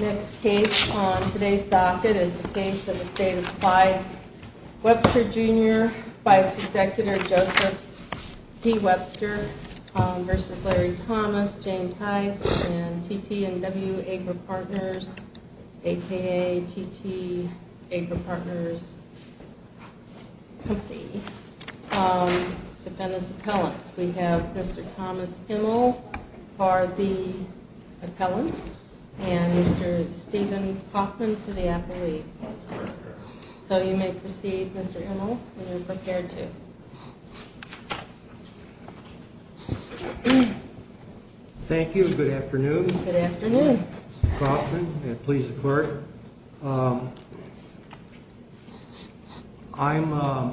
Next case on today's docket is the case of the state-applied Webster Jr. Vice-Executor Joseph D. Webster v. Larry Thomas, Jane Tice, and T.T. & W. Agra Partners, a.k.a. T.T. Agra Partners Company, defendant's appellants. We have Mr. Thomas Immel for the appellant and Mr. Stephen Kaufman for the appellate. So you may proceed, Mr. Immel, when you're prepared to. Thank you. Good afternoon. Good afternoon. Mr. Kaufman, and please, the court. I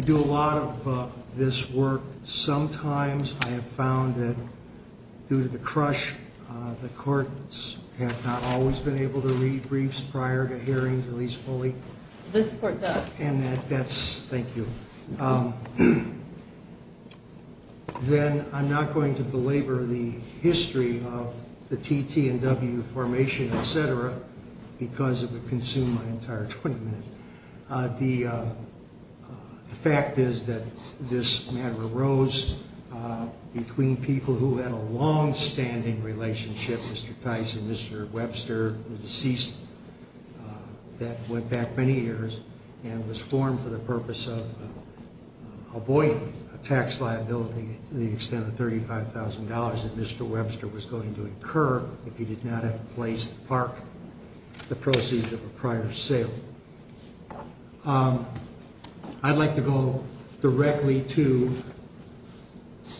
do a lot of this work. Sometimes I have found that due to the crush, the courts have not always been able to read briefs prior to hearings, at least fully. This court does. And that's – thank you. Then I'm not going to belabor the history of the T.T. & W. formation, et cetera, because it would consume my entire 20 minutes. The fact is that this matter arose between people who had a longstanding relationship, Mr. Tice and Mr. Webster, the deceased that went back many years and was formed for the purpose of avoiding a tax liability to the extent of $35,000 that Mr. Webster was going to incur if he did not have a place to park the proceeds of a prior sale. I'd like to go directly to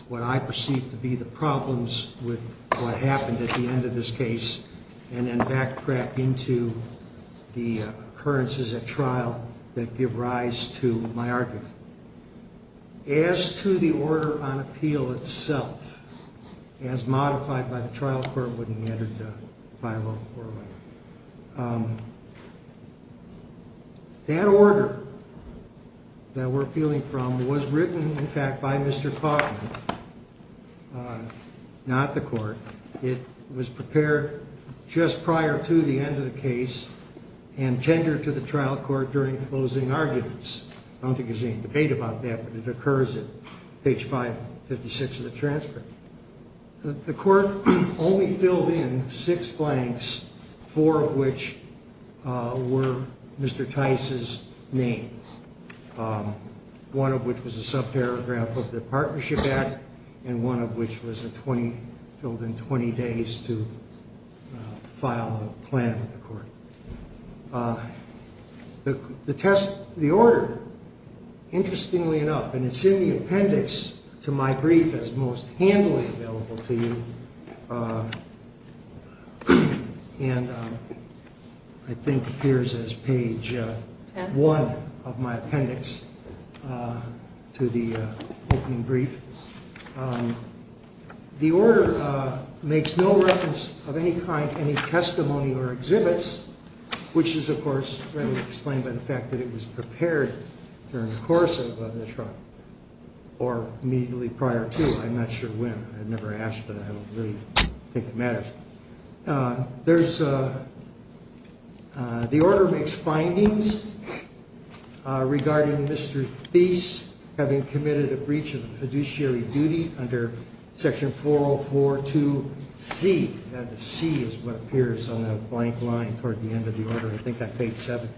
what I perceive to be the problems with what happened at the end of this case and then backtrack into the occurrences at trial that give rise to my argument. As to the order on appeal itself, as modified by the trial court when we entered the 504 letter, that order that we're appealing from was written, in fact, by Mr. Kaufman, not the court. It was prepared just prior to the end of the case and tendered to the trial court during closing arguments. I don't think there's any debate about that, but it occurs at page 556 of the transfer. The court only filled in six blanks, four of which were Mr. Tice's name, one of which was a subparagraph of the partnership act, and one of which was filled in 20 days to file a plan with the court. The test, the order, interestingly enough, and it's in the appendix to my brief as most handily available to you, and I think appears as page one of my appendix to the opening brief. The order makes no reference of any kind to any testimony or exhibits, which is, of course, readily explained by the fact that it was prepared during the course of the trial or immediately prior to. I'm not sure when. I've never asked, but I don't really think it matters. The order makes findings regarding Mr. Tice having committed a breach of fiduciary duty under section 4042C. That C is what appears on the blank line toward the end of the order. I think on page seven.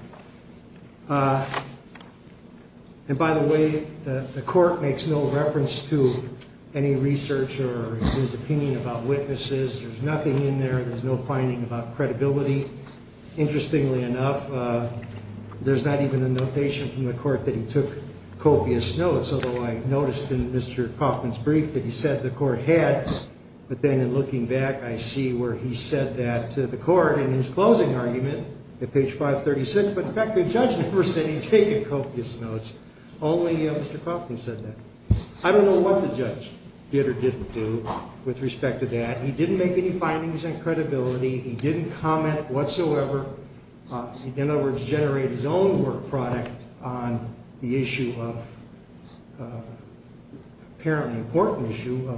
And by the way, the court makes no reference to any research or his opinion about witnesses. There's nothing in there. There's no finding about credibility. Interestingly enough, there's not even a notation from the court that he took copious notes, although I noticed in Mr. Kaufman's brief that he said the court had. But then in looking back, I see where he said that to the court in his closing argument at page 536. But in fact, the judge never said he'd taken copious notes. Only Mr. Kaufman said that. I don't know what the judge did or didn't do with respect to that. He didn't make any findings on credibility. He didn't comment whatsoever. In other words, generate his own work product on the issue of apparently important issue.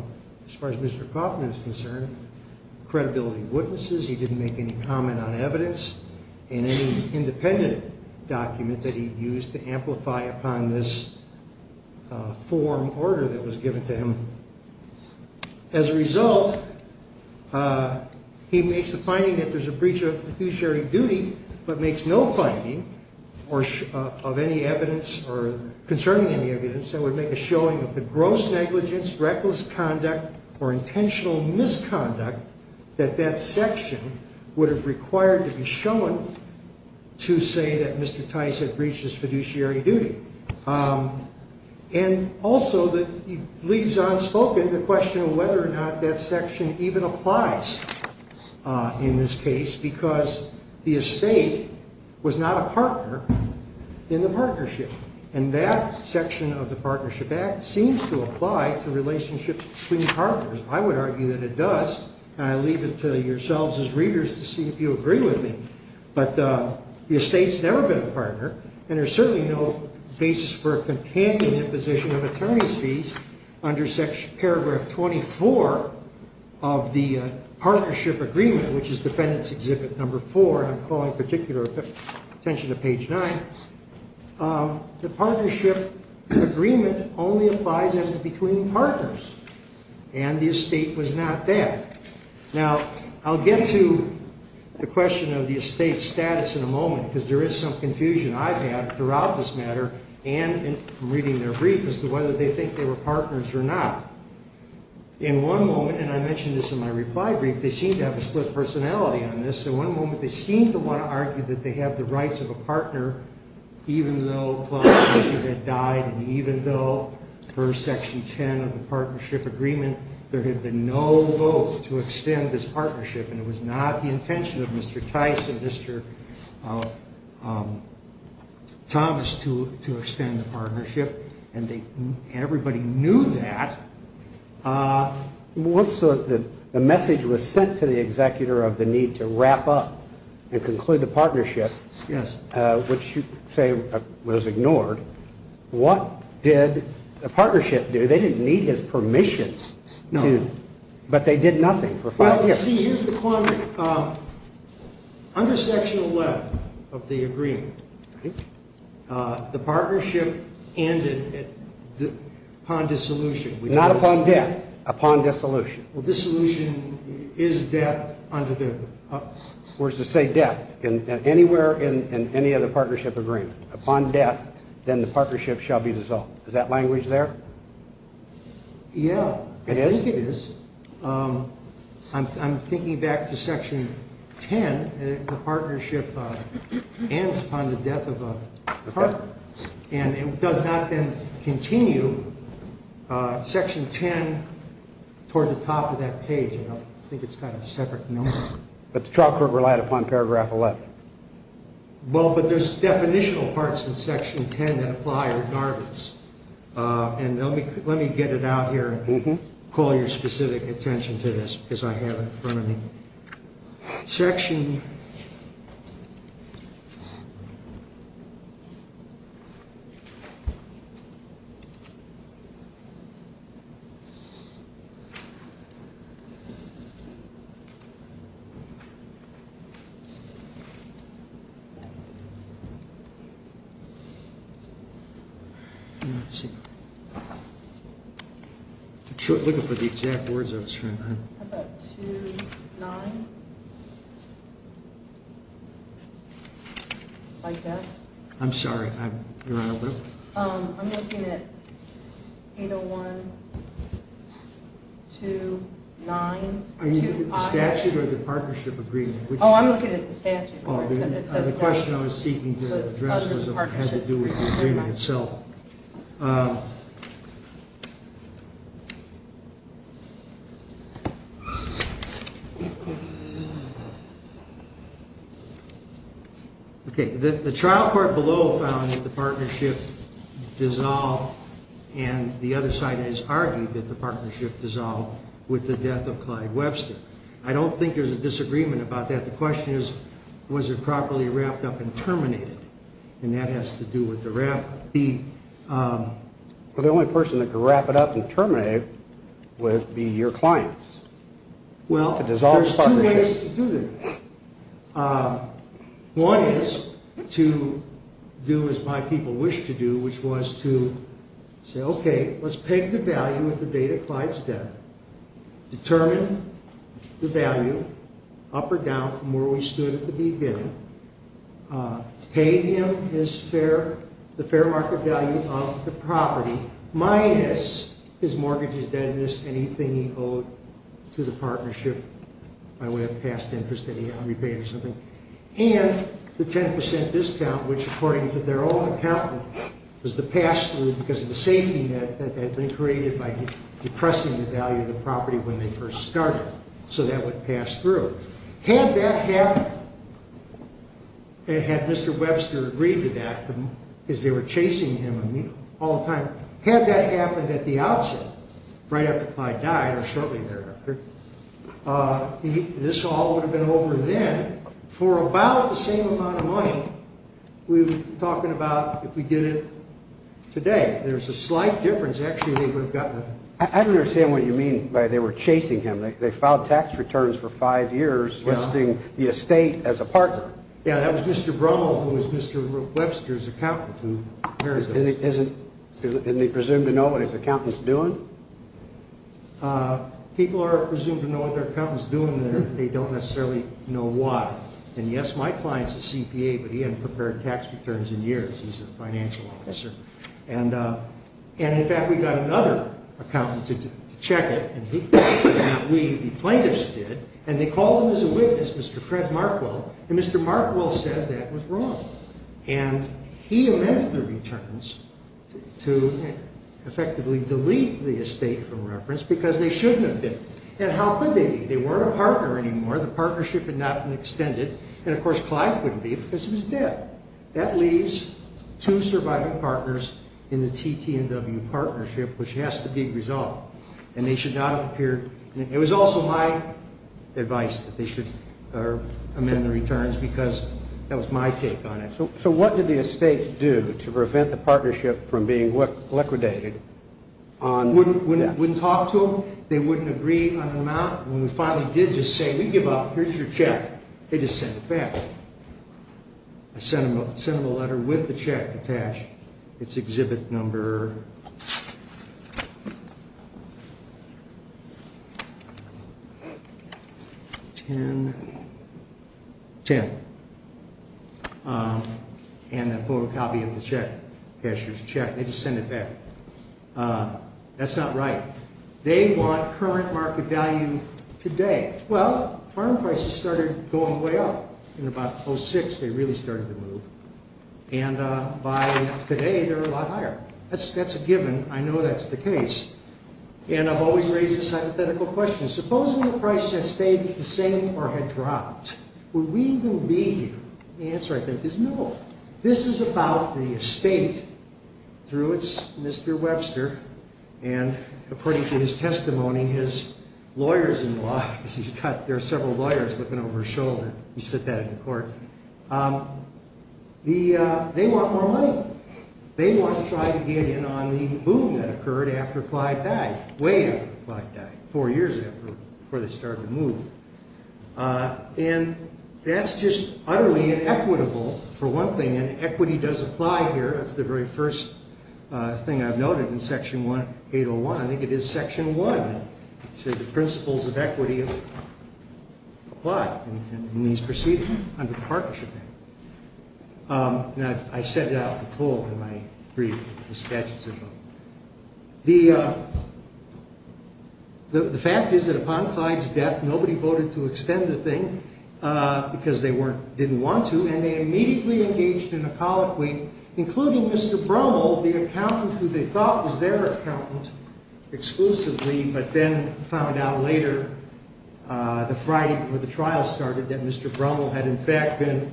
As far as Mr. Kaufman is concerned, credibility witnesses. He didn't make any comment on evidence in any independent document that he used to amplify upon this form order that was given to him. As a result, he makes the finding that there's a breach of fiduciary duty, but makes no finding of any evidence or concerning any evidence that would make a showing of the gross negligence, reckless conduct or intentional misconduct that that section would have required to be shown to say that Mr. Tice had breached his fiduciary duty. And also that leaves unspoken the question of whether or not that section even applies in this case, because the estate was not a partner in the partnership. And that section of the Partnership Act seems to apply to relationships between partners. I would argue that it does. I leave it to yourselves as readers to see if you agree with me. But the estate's never been a partner. And there's certainly no basis for a companion imposition of attorney's fees under paragraph 24 of the partnership agreement, which is Defendant's Exhibit number four. I'm calling particular attention to page nine. The partnership agreement only applies as between partners. And the estate was not there. Now, I'll get to the question of the estate's status in a moment, because there is some confusion I've had throughout this matter and in reading their brief as to whether they think they were partners or not. In one moment, and I mentioned this in my reply brief, they seem to have a split personality on this. In one moment, they seem to want to argue that they have the rights of a partner, even though Clark Fisher had died and even though per Section 10 of the partnership agreement, there had been no vote to extend this partnership. And it was not the intention of Mr. Tice and Mr. Thomas to extend the partnership. And everybody knew that. The message was sent to the executor of the need to wrap up and conclude the partnership. Yes. Which you say was ignored. What did the partnership do? They didn't need his permission. No. But they did nothing for five years. Well, see, here's the point. Under Section 11 of the agreement, the partnership ended upon dissolution. Not upon death. Upon dissolution. Well, dissolution is death under the. Where it says death. Anywhere in any other partnership agreement. Upon death, then the partnership shall be dissolved. Is that language there? Yeah. It is? I think it is. I'm thinking back to Section 10. The partnership ends upon the death of a partner. And it does not then continue Section 10 toward the top of that page. I think it's got a separate note. But the trial court relied upon Paragraph 11. Well, but there's definitional parts in Section 10 that apply regardless. And let me get it out here and call your specific attention to this because I have it in front of me. Section. Let me. Let's see. Like that. I'm sorry. Your Honor. I'm looking at 801-2-9-2-5. Are you looking at the statute or the partnership agreement? Oh, I'm looking at the statute. The question I was seeking to address had to do with the agreement itself. Okay. The trial court below found that the partnership dissolved, and the other side has argued that the partnership dissolved with the death of Clyde Webster. I don't think there's a disagreement about that. The question is, was it properly wrapped up and terminated? And that has to do with the wrap. Well, the only person that could wrap it up and terminate it would be your clients. Well, there's two ways to do this. One is to do as my people wish to do, which was to say, okay, let's peg the value at the date of Clyde's death, determine the value up or down from where we stood at the beginning, pay him the fair market value of the property minus his mortgage, his deadness, anything he owed to the partnership by way of past interest that he had on rebate or something, and the 10% discount, which, according to their own accountant, was the pass-through because of the safety net that had been created by depressing the value of the property when they first started. So that would pass through. Had that happened, had Mr. Webster agreed to that because they were chasing him all the time, had that happened at the outset right after Clyde died or shortly thereafter, this all would have been over then for about the same amount of money we're talking about if we did it today. There's a slight difference. Actually, they would have gotten it. I don't understand what you mean by they were chasing him. They filed tax returns for five years listing the estate as a partner. Yeah, that was Mr. Brummel, who was Mr. Webster's accountant. And they presume to know what his accountant's doing? People are presumed to know what their accountant's doing there. They don't necessarily know why. And, yes, my client's a CPA, but he hadn't prepared tax returns in years. He's a financial officer. And, in fact, we got another accountant to check it, the plaintiffs did, and they called him as a witness, Mr. Fred Markwell, and Mr. Markwell said that was wrong. And he amended the returns to effectively delete the estate from reference because they shouldn't have been. And how could they be? They weren't a partner anymore. The partnership had not been extended. And, of course, Clyde couldn't be because he was dead. That leaves two surviving partners in the TT&W partnership, which has to be resolved. And they should not appear. It was also my advice that they should amend the returns because that was my take on it. So what did the estates do to prevent the partnership from being liquidated? Wouldn't talk to them. They wouldn't agree on an amount. When we finally did just say, we give up, here's your check, they just sent it back. I sent them a letter with the check attached. It's exhibit number 10. And a photocopy of the check, cashier's check. They just sent it back. That's not right. They want current market value today. Well, farm prices started going way up. In about 2006, they really started to move. And by today, they're a lot higher. That's a given. I know that's the case. And I've always raised this hypothetical question. Supposing the price of the estate is the same or had dropped, would we believe? The answer, I think, is no. This is about the estate through its Mr. Webster. And according to his testimony, his lawyers in law, there are several lawyers looking over his shoulder. He said that in court. They want more money. They want to try to get in on the boom that occurred after Clyde died. Way after Clyde died, four years before they started to move. And that's just utterly inequitable, for one thing. And equity does apply here. That's the very first thing I've noted in Section 801. I think it is Section 1. It says the principles of equity apply. And these proceed under the Partnership Act. And I set it out in full in my brief, the statutes of the law. The fact is that upon Clyde's death, nobody voted to extend the thing because they didn't want to. And they immediately engaged in a colloquy, including Mr. Brummel, the accountant who they thought was their accountant exclusively, but then found out later, the Friday before the trial started, that Mr. Brummel had in fact been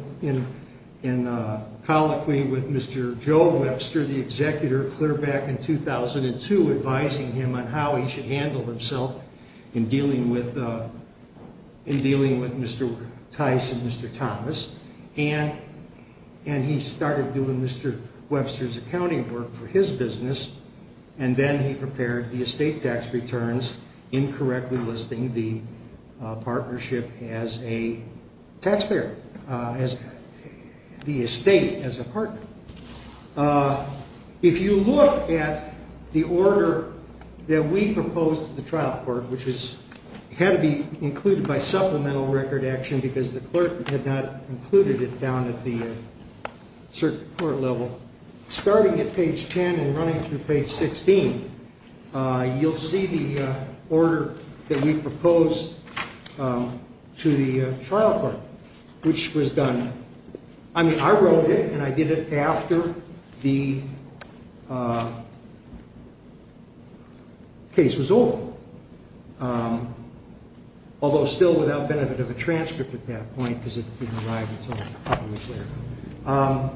in a colloquy with Mr. Joe Webster, the executor, clear back in 2002, advising him on how he should handle himself in dealing with Mr. Tice and Mr. Thomas. And he started doing Mr. Webster's accounting work for his business. And then he prepared the estate tax returns, incorrectly listing the partnership as a taxpayer, the estate as a partner. If you look at the order that we proposed to the trial court, which had to be included by supplemental record action because the clerk had not included it down at the circuit court level, starting at page 10 and running through page 16, you'll see the order that we proposed to the trial court, which was done. I mean, I wrote it, and I did it after the case was over, although still without benefit of a transcript at that point because it didn't arrive until a couple of weeks later.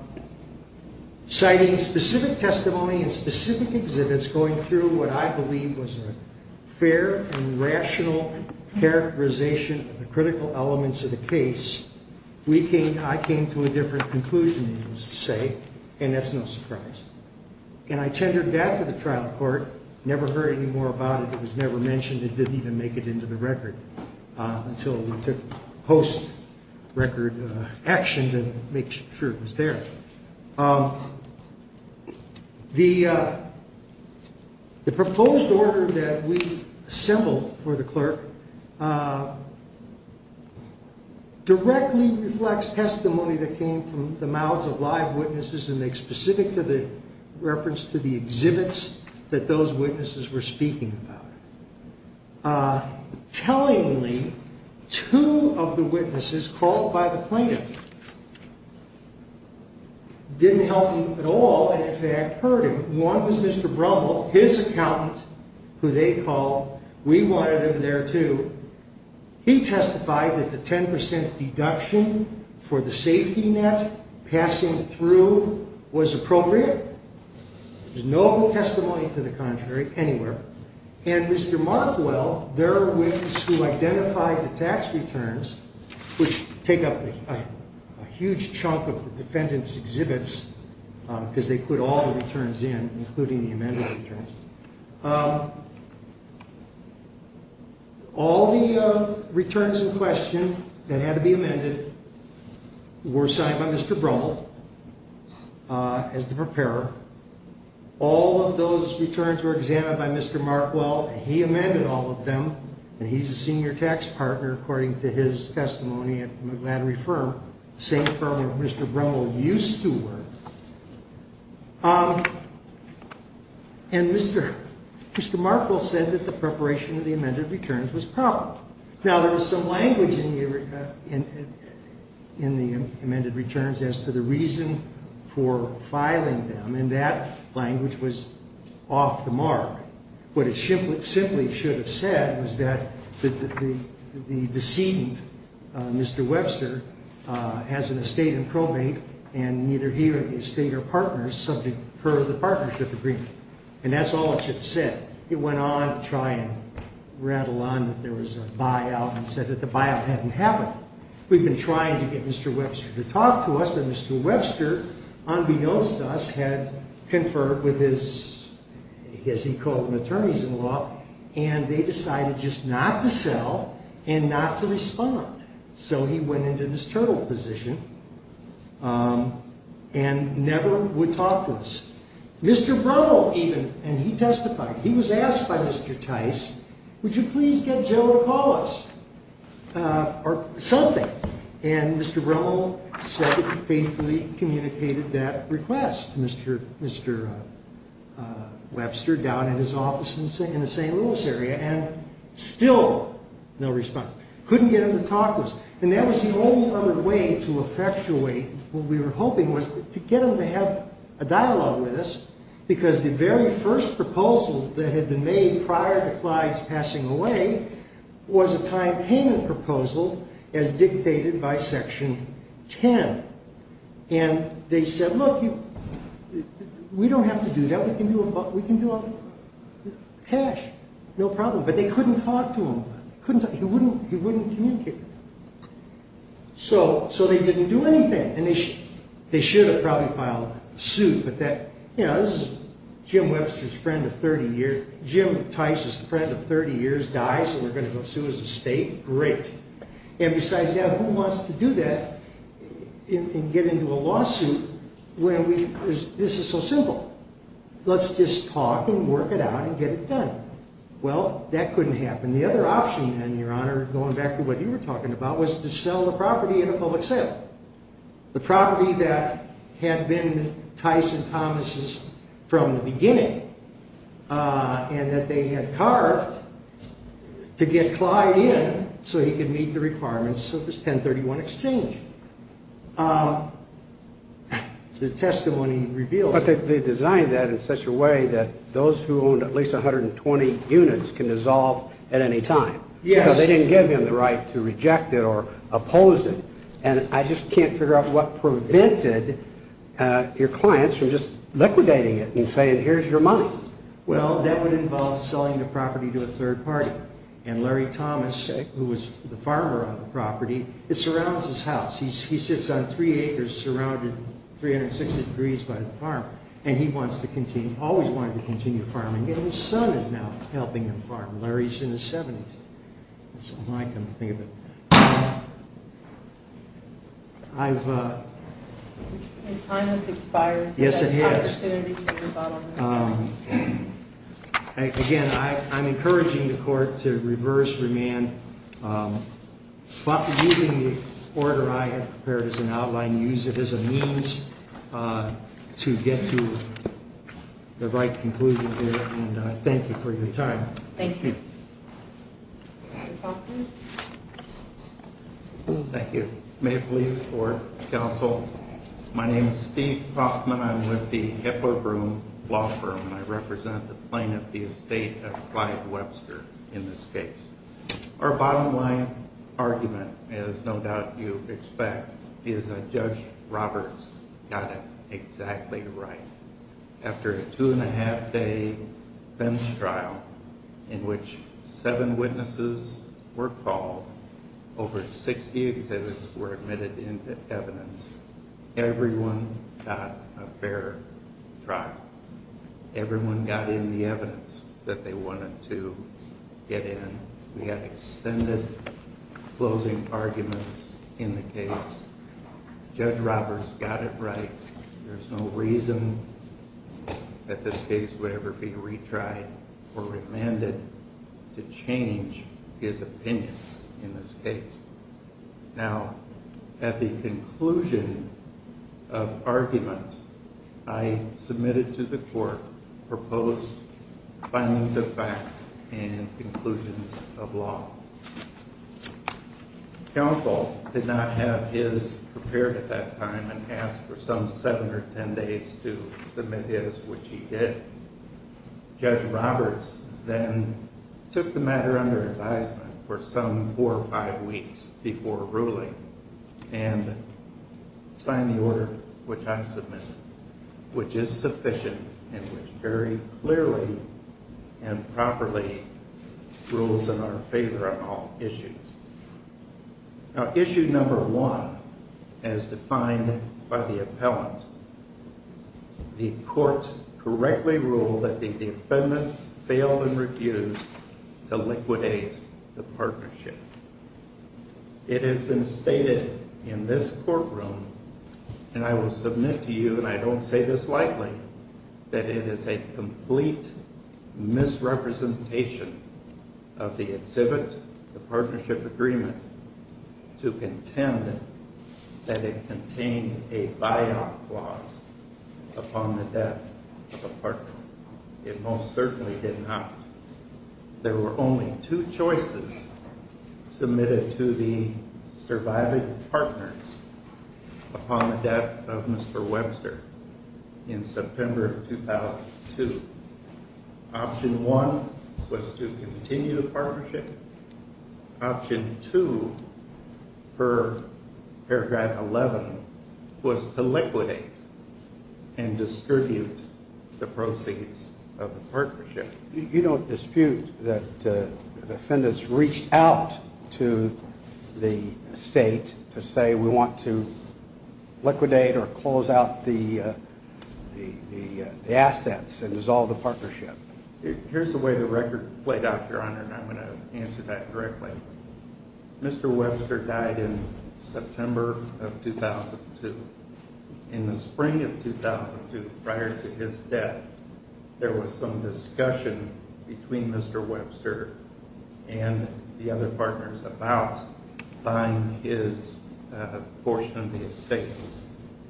Citing specific testimony and specific exhibits going through what I believe was a fair and rational characterization of the critical elements of the case, I came to a different conclusion, you could say, and that's no surprise. And I tendered that to the trial court, never heard any more about it. It was never mentioned. It didn't even make it into the record until it went to post-record action to make sure it was there. The proposed order that we assembled for the clerk directly reflects testimony that came from the mouths of live witnesses and makes specific reference to the exhibits that those witnesses were speaking about. Tellingly, two of the witnesses called by the plaintiff didn't help him at all and, in fact, hurt him. One was Mr. Brumble, his accountant, who they called. We wanted him there, too. He testified that the 10% deduction for the safety net passing through was appropriate. There's no testimony to the contrary anywhere. And Mr. Markwell, their witness who identified the tax returns, which take up a huge chunk of the defendant's exhibits, because they put all the returns in, including the amended returns. All the returns in question that had to be amended were signed by Mr. Brumble as the preparer. All of those returns were examined by Mr. Markwell, and he amended all of them. And he's a senior tax partner, according to his testimony at the McLattery firm, the same firm where Mr. Brumble used to work. And Mr. Markwell said that the preparation of the amended returns was proper. Now, there was some language in the amended returns as to the reason for filing them, and that language was off the mark. What it simply should have said was that the decedent, Mr. Webster, has an estate in probate, and neither he or the estate are partners subject per the partnership agreement. And that's all it should have said. It went on to try and rattle on that there was a buyout and said that the buyout hadn't happened. We've been trying to get Mr. Webster to talk to us, but Mr. Webster, unbeknownst to us, had conferred with his, as he called them, attorneys-in-law, and they decided just not to sell and not to respond. So he went into this turtle position and never would talk to us. Mr. Brumble even, and he testified, he was asked by Mr. Tice, would you please get Joe to call us or something? And Mr. Brumble said he faithfully communicated that request to Mr. Webster down in his office in the St. Louis area, and still no response. Couldn't get him to talk to us. And that was the only other way to effectuate what we were hoping was to get him to have a dialogue with us, because the very first proposal that had been made prior to Clyde's passing away was a time payment proposal as dictated by Section 10. And they said, look, we don't have to do that. We can do a cash, no problem. But they couldn't talk to him. He wouldn't communicate with them. So they didn't do anything, and they should have probably filed suit. But this is Jim Webster's friend of 30 years. Jim Tice's friend of 30 years dies, and we're going to go sue as a state? Great. And besides that, who wants to do that and get into a lawsuit where this is so simple? Let's just talk and work it out and get it done. Well, that couldn't happen. And the other option, then, Your Honor, going back to what you were talking about, was to sell the property at a public sale, the property that had been Tice and Thomas's from the beginning and that they had carved to get Clyde in so he could meet the requirements of this 1031 exchange. The testimony reveals that. They designed that in such a way that those who owned at least 120 units can dissolve at any time. Yes. Because they didn't give him the right to reject it or oppose it. And I just can't figure out what prevented your clients from just liquidating it and saying, here's your money. Well, that would involve selling the property to a third party. And Larry Thomas, who was the farmer on the property, surrounds his house. He sits on three acres surrounded 360 degrees by the farm. And he wants to continue, always wanted to continue farming. And his son is now helping him farm. Larry's in his 70s. That's all I can think of. And time has expired. Yes, it has. Again, I'm encouraging the court to reverse remand. Using the order I have prepared as an outline, use it as a means to get to the right conclusion here. And I thank you for your time. Thank you. Mr. Kaufman. Thank you. May it please the court, counsel. My name is Steve Kaufman. I'm with the Hipper Broom Law Firm. And I represent the plaintiff, the estate of Clyde Webster, in this case. Our bottom line argument, as no doubt you expect, is that Judge Roberts got it exactly right. After a two-and-a-half-day bench trial in which seven witnesses were called, over 60 exhibits were admitted into evidence, everyone got a fair trial. Everyone got in the evidence that they wanted to get in. We had extended closing arguments in the case. Judge Roberts got it right. There's no reason that this case would ever be retried or remanded to change his opinions in this case. Now, at the conclusion of argument, I submitted to the court proposed findings of fact and conclusions of law. Counsel did not have his prepared at that time and asked for some seven or ten days to submit his, which he did. Judge Roberts then took the matter under advisement for some four or five weeks before ruling and signed the order which I submitted, which is sufficient and which very clearly and properly rules in our favor on all issues. Now, issue number one, as defined by the appellant, the court correctly ruled that the defendants failed and refused to liquidate the partnership. It has been stated in this courtroom, and I will submit to you and I don't say this lightly, that it is a complete misrepresentation of the exhibit, the partnership agreement, to contend that it contained a buyout clause upon the death of a partner. It most certainly did not. There were only two choices submitted to the surviving partners upon the death of Mr. Webster in September of 2002. Option one was to continue the partnership. Option two, per paragraph 11, was to liquidate and distribute the proceeds of the partnership. You don't dispute that the defendants reached out to the state to say we want to liquidate or close out the assets and dissolve the partnership? Here's the way the record played out, Your Honor, and I'm going to answer that directly. Mr. Webster died in September of 2002. In the spring of 2002, prior to his death, there was some discussion between Mr. Webster and the other partners about buying his portion of the estate.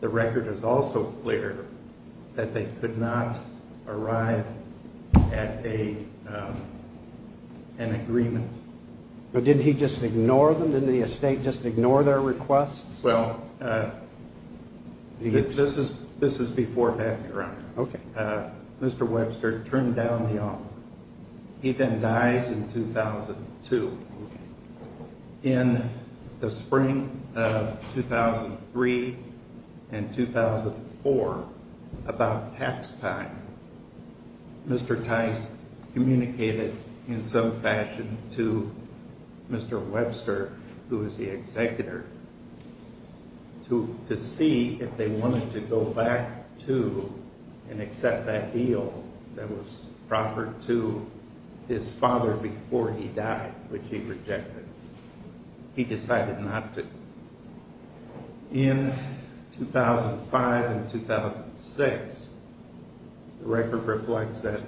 The record is also clear that they could not arrive at an agreement. But didn't he just ignore them? Didn't the estate just ignore their requests? Well, this is before that, Your Honor. Okay. Mr. Webster turned down the offer. He then dies in 2002. Okay. In the spring of 2003 and 2004, about tax time, Mr. Tice communicated in some fashion to Mr. Webster, who was the executor, to see if they wanted to go back to and accept that deal that was proffered to his father before he died, which he rejected. He decided not to. In 2005 and 2006, the record reflects that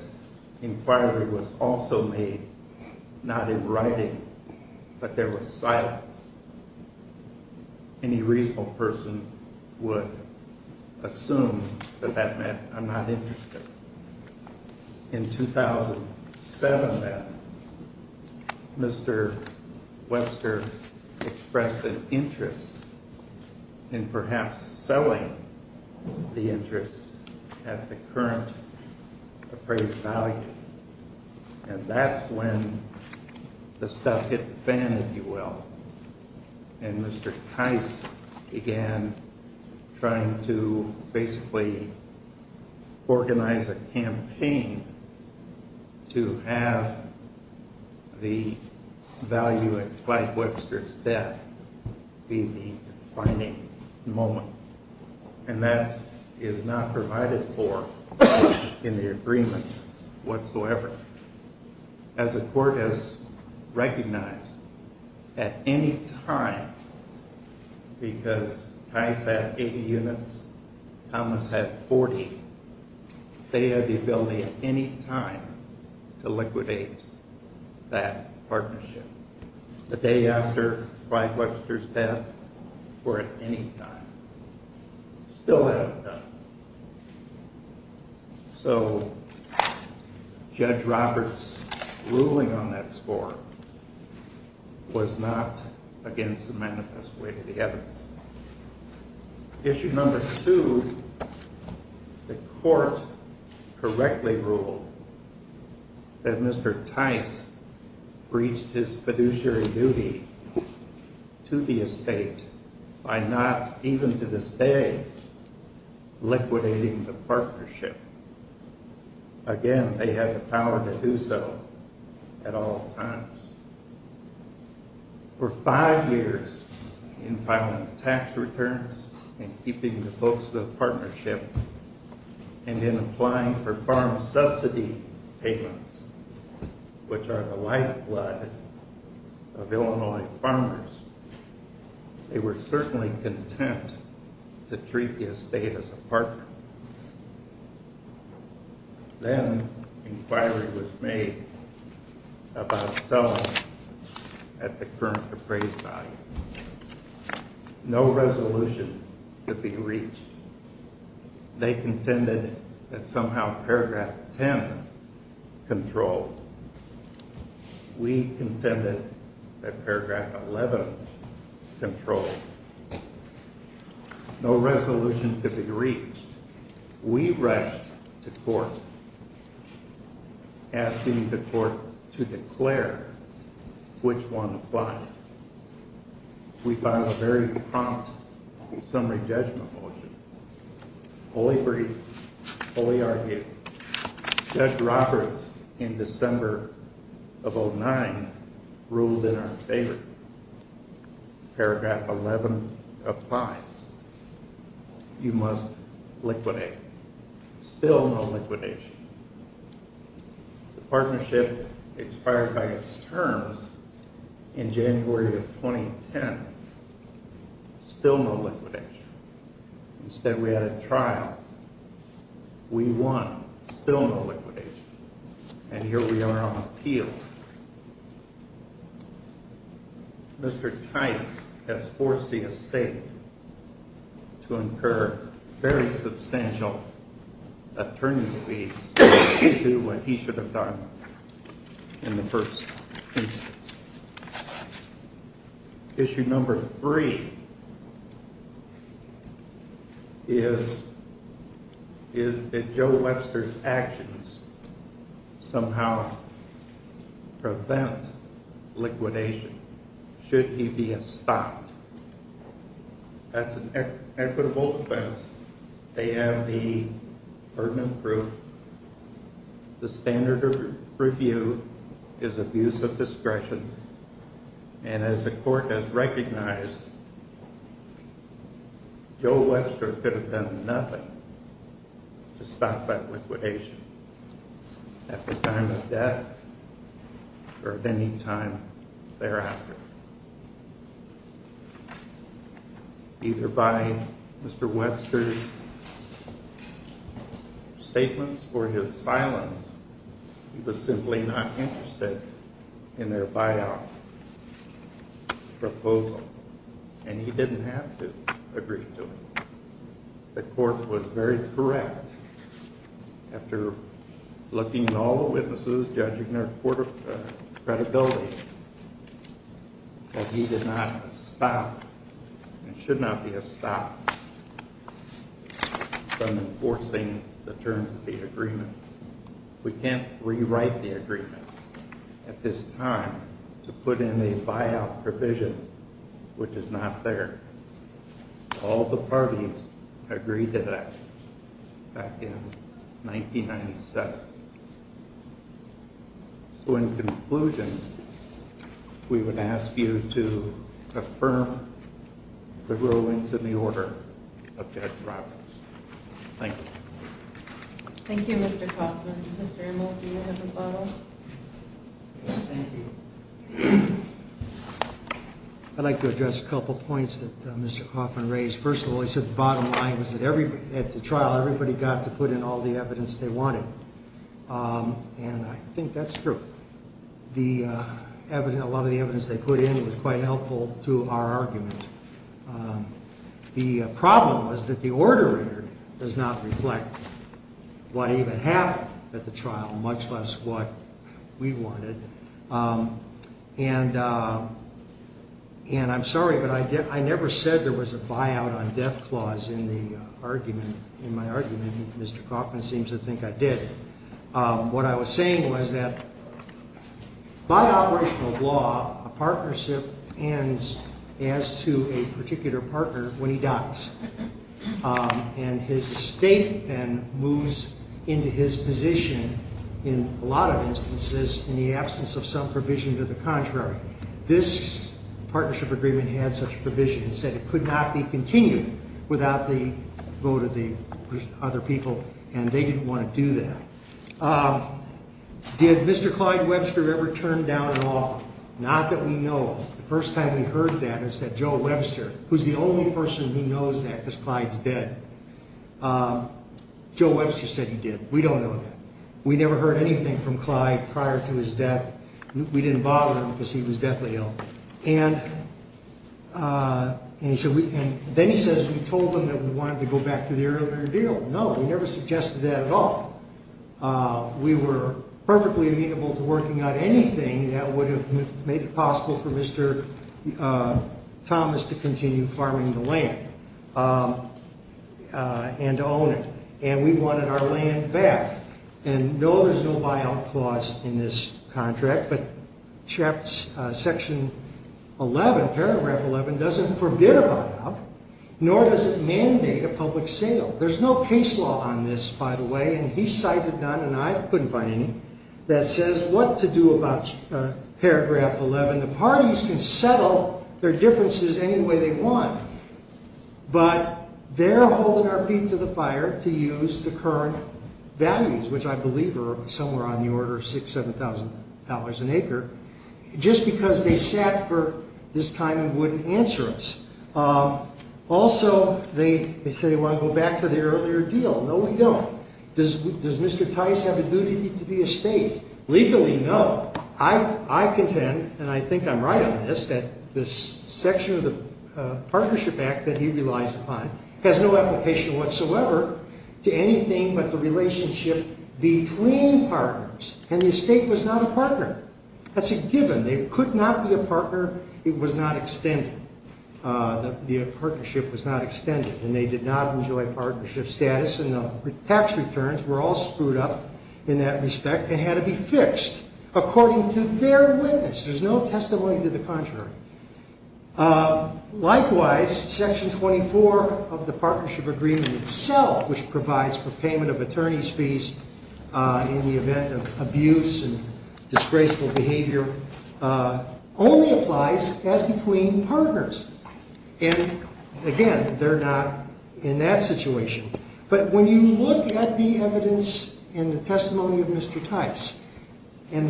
inquiry was also made, not in writing, but there was silence. Any reasonable person would assume that that meant, I'm not interested. In 2007, Mr. Webster expressed an interest in perhaps selling the interest at the current appraised value. And that's when the stuff hit the fan, if you will. And Mr. Tice began trying to basically organize a campaign to have the value at Clyde Webster's death be the defining moment. And that is not provided for in the agreement whatsoever. As the court has recognized, at any time, because Tice had 80 units, Thomas had 40, they had the ability at any time to liquidate that partnership. The day after Clyde Webster's death or at any time. Still hadn't done it. So, Judge Roberts' ruling on that score was not against the manifest way to the evidence. Issue number two, the court correctly ruled that Mr. Tice breached his fiduciary duty to the estate by not, even to this day, liquidating the partnership. Again, they had the power to do so at all times. For five years, in filing tax returns and keeping the books of the partnership, and in applying for farm subsidy payments, which are the lifeblood of Illinois farmers, they were certainly content to treat the estate as a partner. Then, an inquiry was made about selling at the current appraised value. No resolution could be reached. They contended that somehow paragraph 10 controlled. We contended that paragraph 11 controlled. No resolution could be reached. We rushed to court, asking the court to declare which one applied. We filed a very prompt summary judgment motion, fully briefed, fully argued. Judge Roberts, in December of 09, ruled in our favor. Paragraph 11 applies. You must liquidate. Still no liquidation. The partnership expired by its terms in January of 2010. Still no liquidation. Instead, we had a trial. We won. Still no liquidation. And here we are on appeal. Mr. Tice has forced the estate to incur very substantial attorney's fees due to what he should have done in the first instance. Issue number three is that Joe Webster's actions somehow prevent liquidation should he be stopped. That's an equitable offense. They have the burden of proof. The standard of review is abuse of discretion. And as the court has recognized, Joe Webster could have done nothing to stop that liquidation at the time of death or at any time thereafter. Either by Mr. Webster's statements or his silence, he was simply not interested in their buyout proposal. And he didn't have to agree to it. The court was very correct after looking at all the witnesses, judging their credibility, that he did not stop and should not be stopped from enforcing the terms of the agreement. We can't rewrite the agreement at this time to put in a buyout provision which is not there. All the parties agreed to that back in 1997. So in conclusion, we would ask you to affirm the rulings in the order of Judge Roberts. Thank you. Thank you, Mr. Kaufman. Mr. Amos, do you have a follow-up? Yes, thank you. I'd like to address a couple points that Mr. Kaufman raised. First of all, he said the bottom line was that at the trial everybody got to put in all the evidence they wanted. And I think that's true. A lot of the evidence they put in was quite helpful to our argument. The problem was that the order does not reflect what even happened at the trial, much less what we wanted. And I'm sorry, but I never said there was a buyout on death clause in the argument. In my argument, Mr. Kaufman seems to think I did. What I was saying was that by operational law, a partnership ends as to a particular partner when he dies. And his estate then moves into his position in a lot of instances in the absence of some provision to the contrary. This partnership agreement had such a provision. It said it could not be continued without the vote of the other people. And they didn't want to do that. Did Mr. Clyde Webster ever turn down an offer? Not that we know of. The first time we heard that is that Joe Webster, who's the only person who knows that because Clyde's dead, Joe Webster said he did. We don't know that. We never heard anything from Clyde prior to his death. We didn't bother him because he was deathly ill. And then he says we told him that we wanted to go back to the earlier deal. No, he never suggested that at all. We were perfectly amenable to working out anything that would have made it possible for Mr. Thomas to continue farming the land and own it. And we wanted our land back. And, no, there's no buyout clause in this contract. But Section 11, Paragraph 11, doesn't forbid a buyout, nor does it mandate a public sale. There's no case law on this, by the way, and he cited none and I couldn't find any, that says what to do about Paragraph 11. The parties can settle their differences any way they want. But they're holding our feet to the fire to use the current values, which I believe are somewhere on the order of $6,000, $7,000 an acre, just because they sat for this time and wouldn't answer us. Also, they say they want to go back to the earlier deal. No, we don't. Does Mr. Tice have a duty to the estate? Legally, no. I contend, and I think I'm right on this, that this section of the Partnership Act that he relies upon has no application whatsoever to anything but the relationship between partners. And the estate was not a partner. That's a given. It could not be a partner. It was not extended. The partnership was not extended, and they did not enjoy partnership status, and the tax returns were all screwed up in that respect and had to be fixed according to their witness. There's no testimony to the contrary. Likewise, Section 24 of the partnership agreement itself, which provides for payment of attorney's fees in the event of abuse and disgraceful behavior, only applies as between partners. And, again, they're not in that situation. But when you look at the evidence in the testimony of Mr. Tice and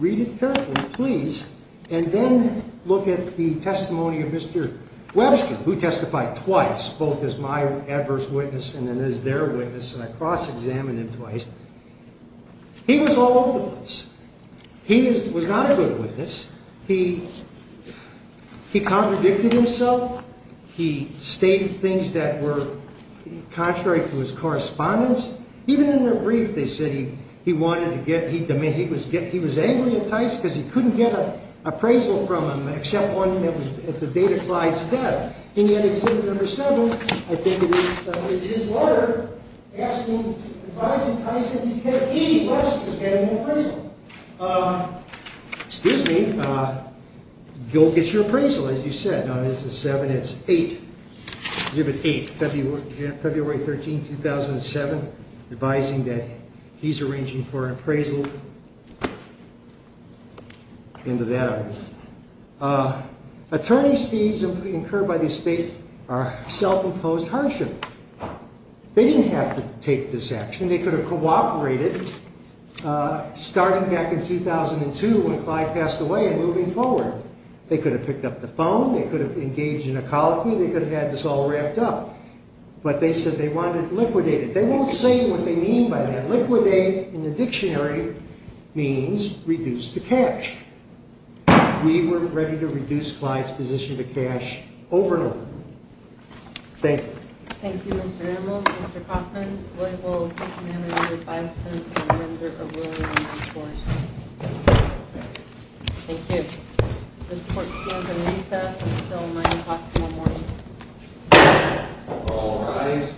read it carefully, please, and then look at the testimony of Mr. Webster, who testified twice, both as my adverse witness and then as their witness, and I cross-examined him twice, he was all over the place. He was not a good witness. He contradicted himself. He stated things that were contrary to his correspondence. Even in their brief, they said he wanted to get – he was angry at Tice because he couldn't get an appraisal from him, except one that was at the date of Clyde's death. And yet, Exhibit No. 7, I think it is, is his letter asking – advising Tice that he could have paid Webster to get an appraisal. Excuse me. Go get your appraisal, as you said. No, this is 7. It's 8. Exhibit 8, February 13, 2007, advising that he's arranging for an appraisal. End of that argument. Attorney's fees incurred by the state are self-imposed hardship. They didn't have to take this action. They could have cooperated starting back in 2002 when Clyde passed away and moving forward. They could have picked up the phone. They could have engaged in a colloquy. They could have had this all wrapped up. But they said they wanted to liquidate it. They won't say what they mean by that. Liquidate in the dictionary means reduce the cash. We were ready to reduce Clyde's position to cash over and over. Thank you. Thank you, Mr. Animal. Mr. Kaufman, Louisville Tice Managers, Advisors, and Renders of Willingness, of course. Thank you. This court is adjourned in recess until 9 o'clock tomorrow morning. All rise.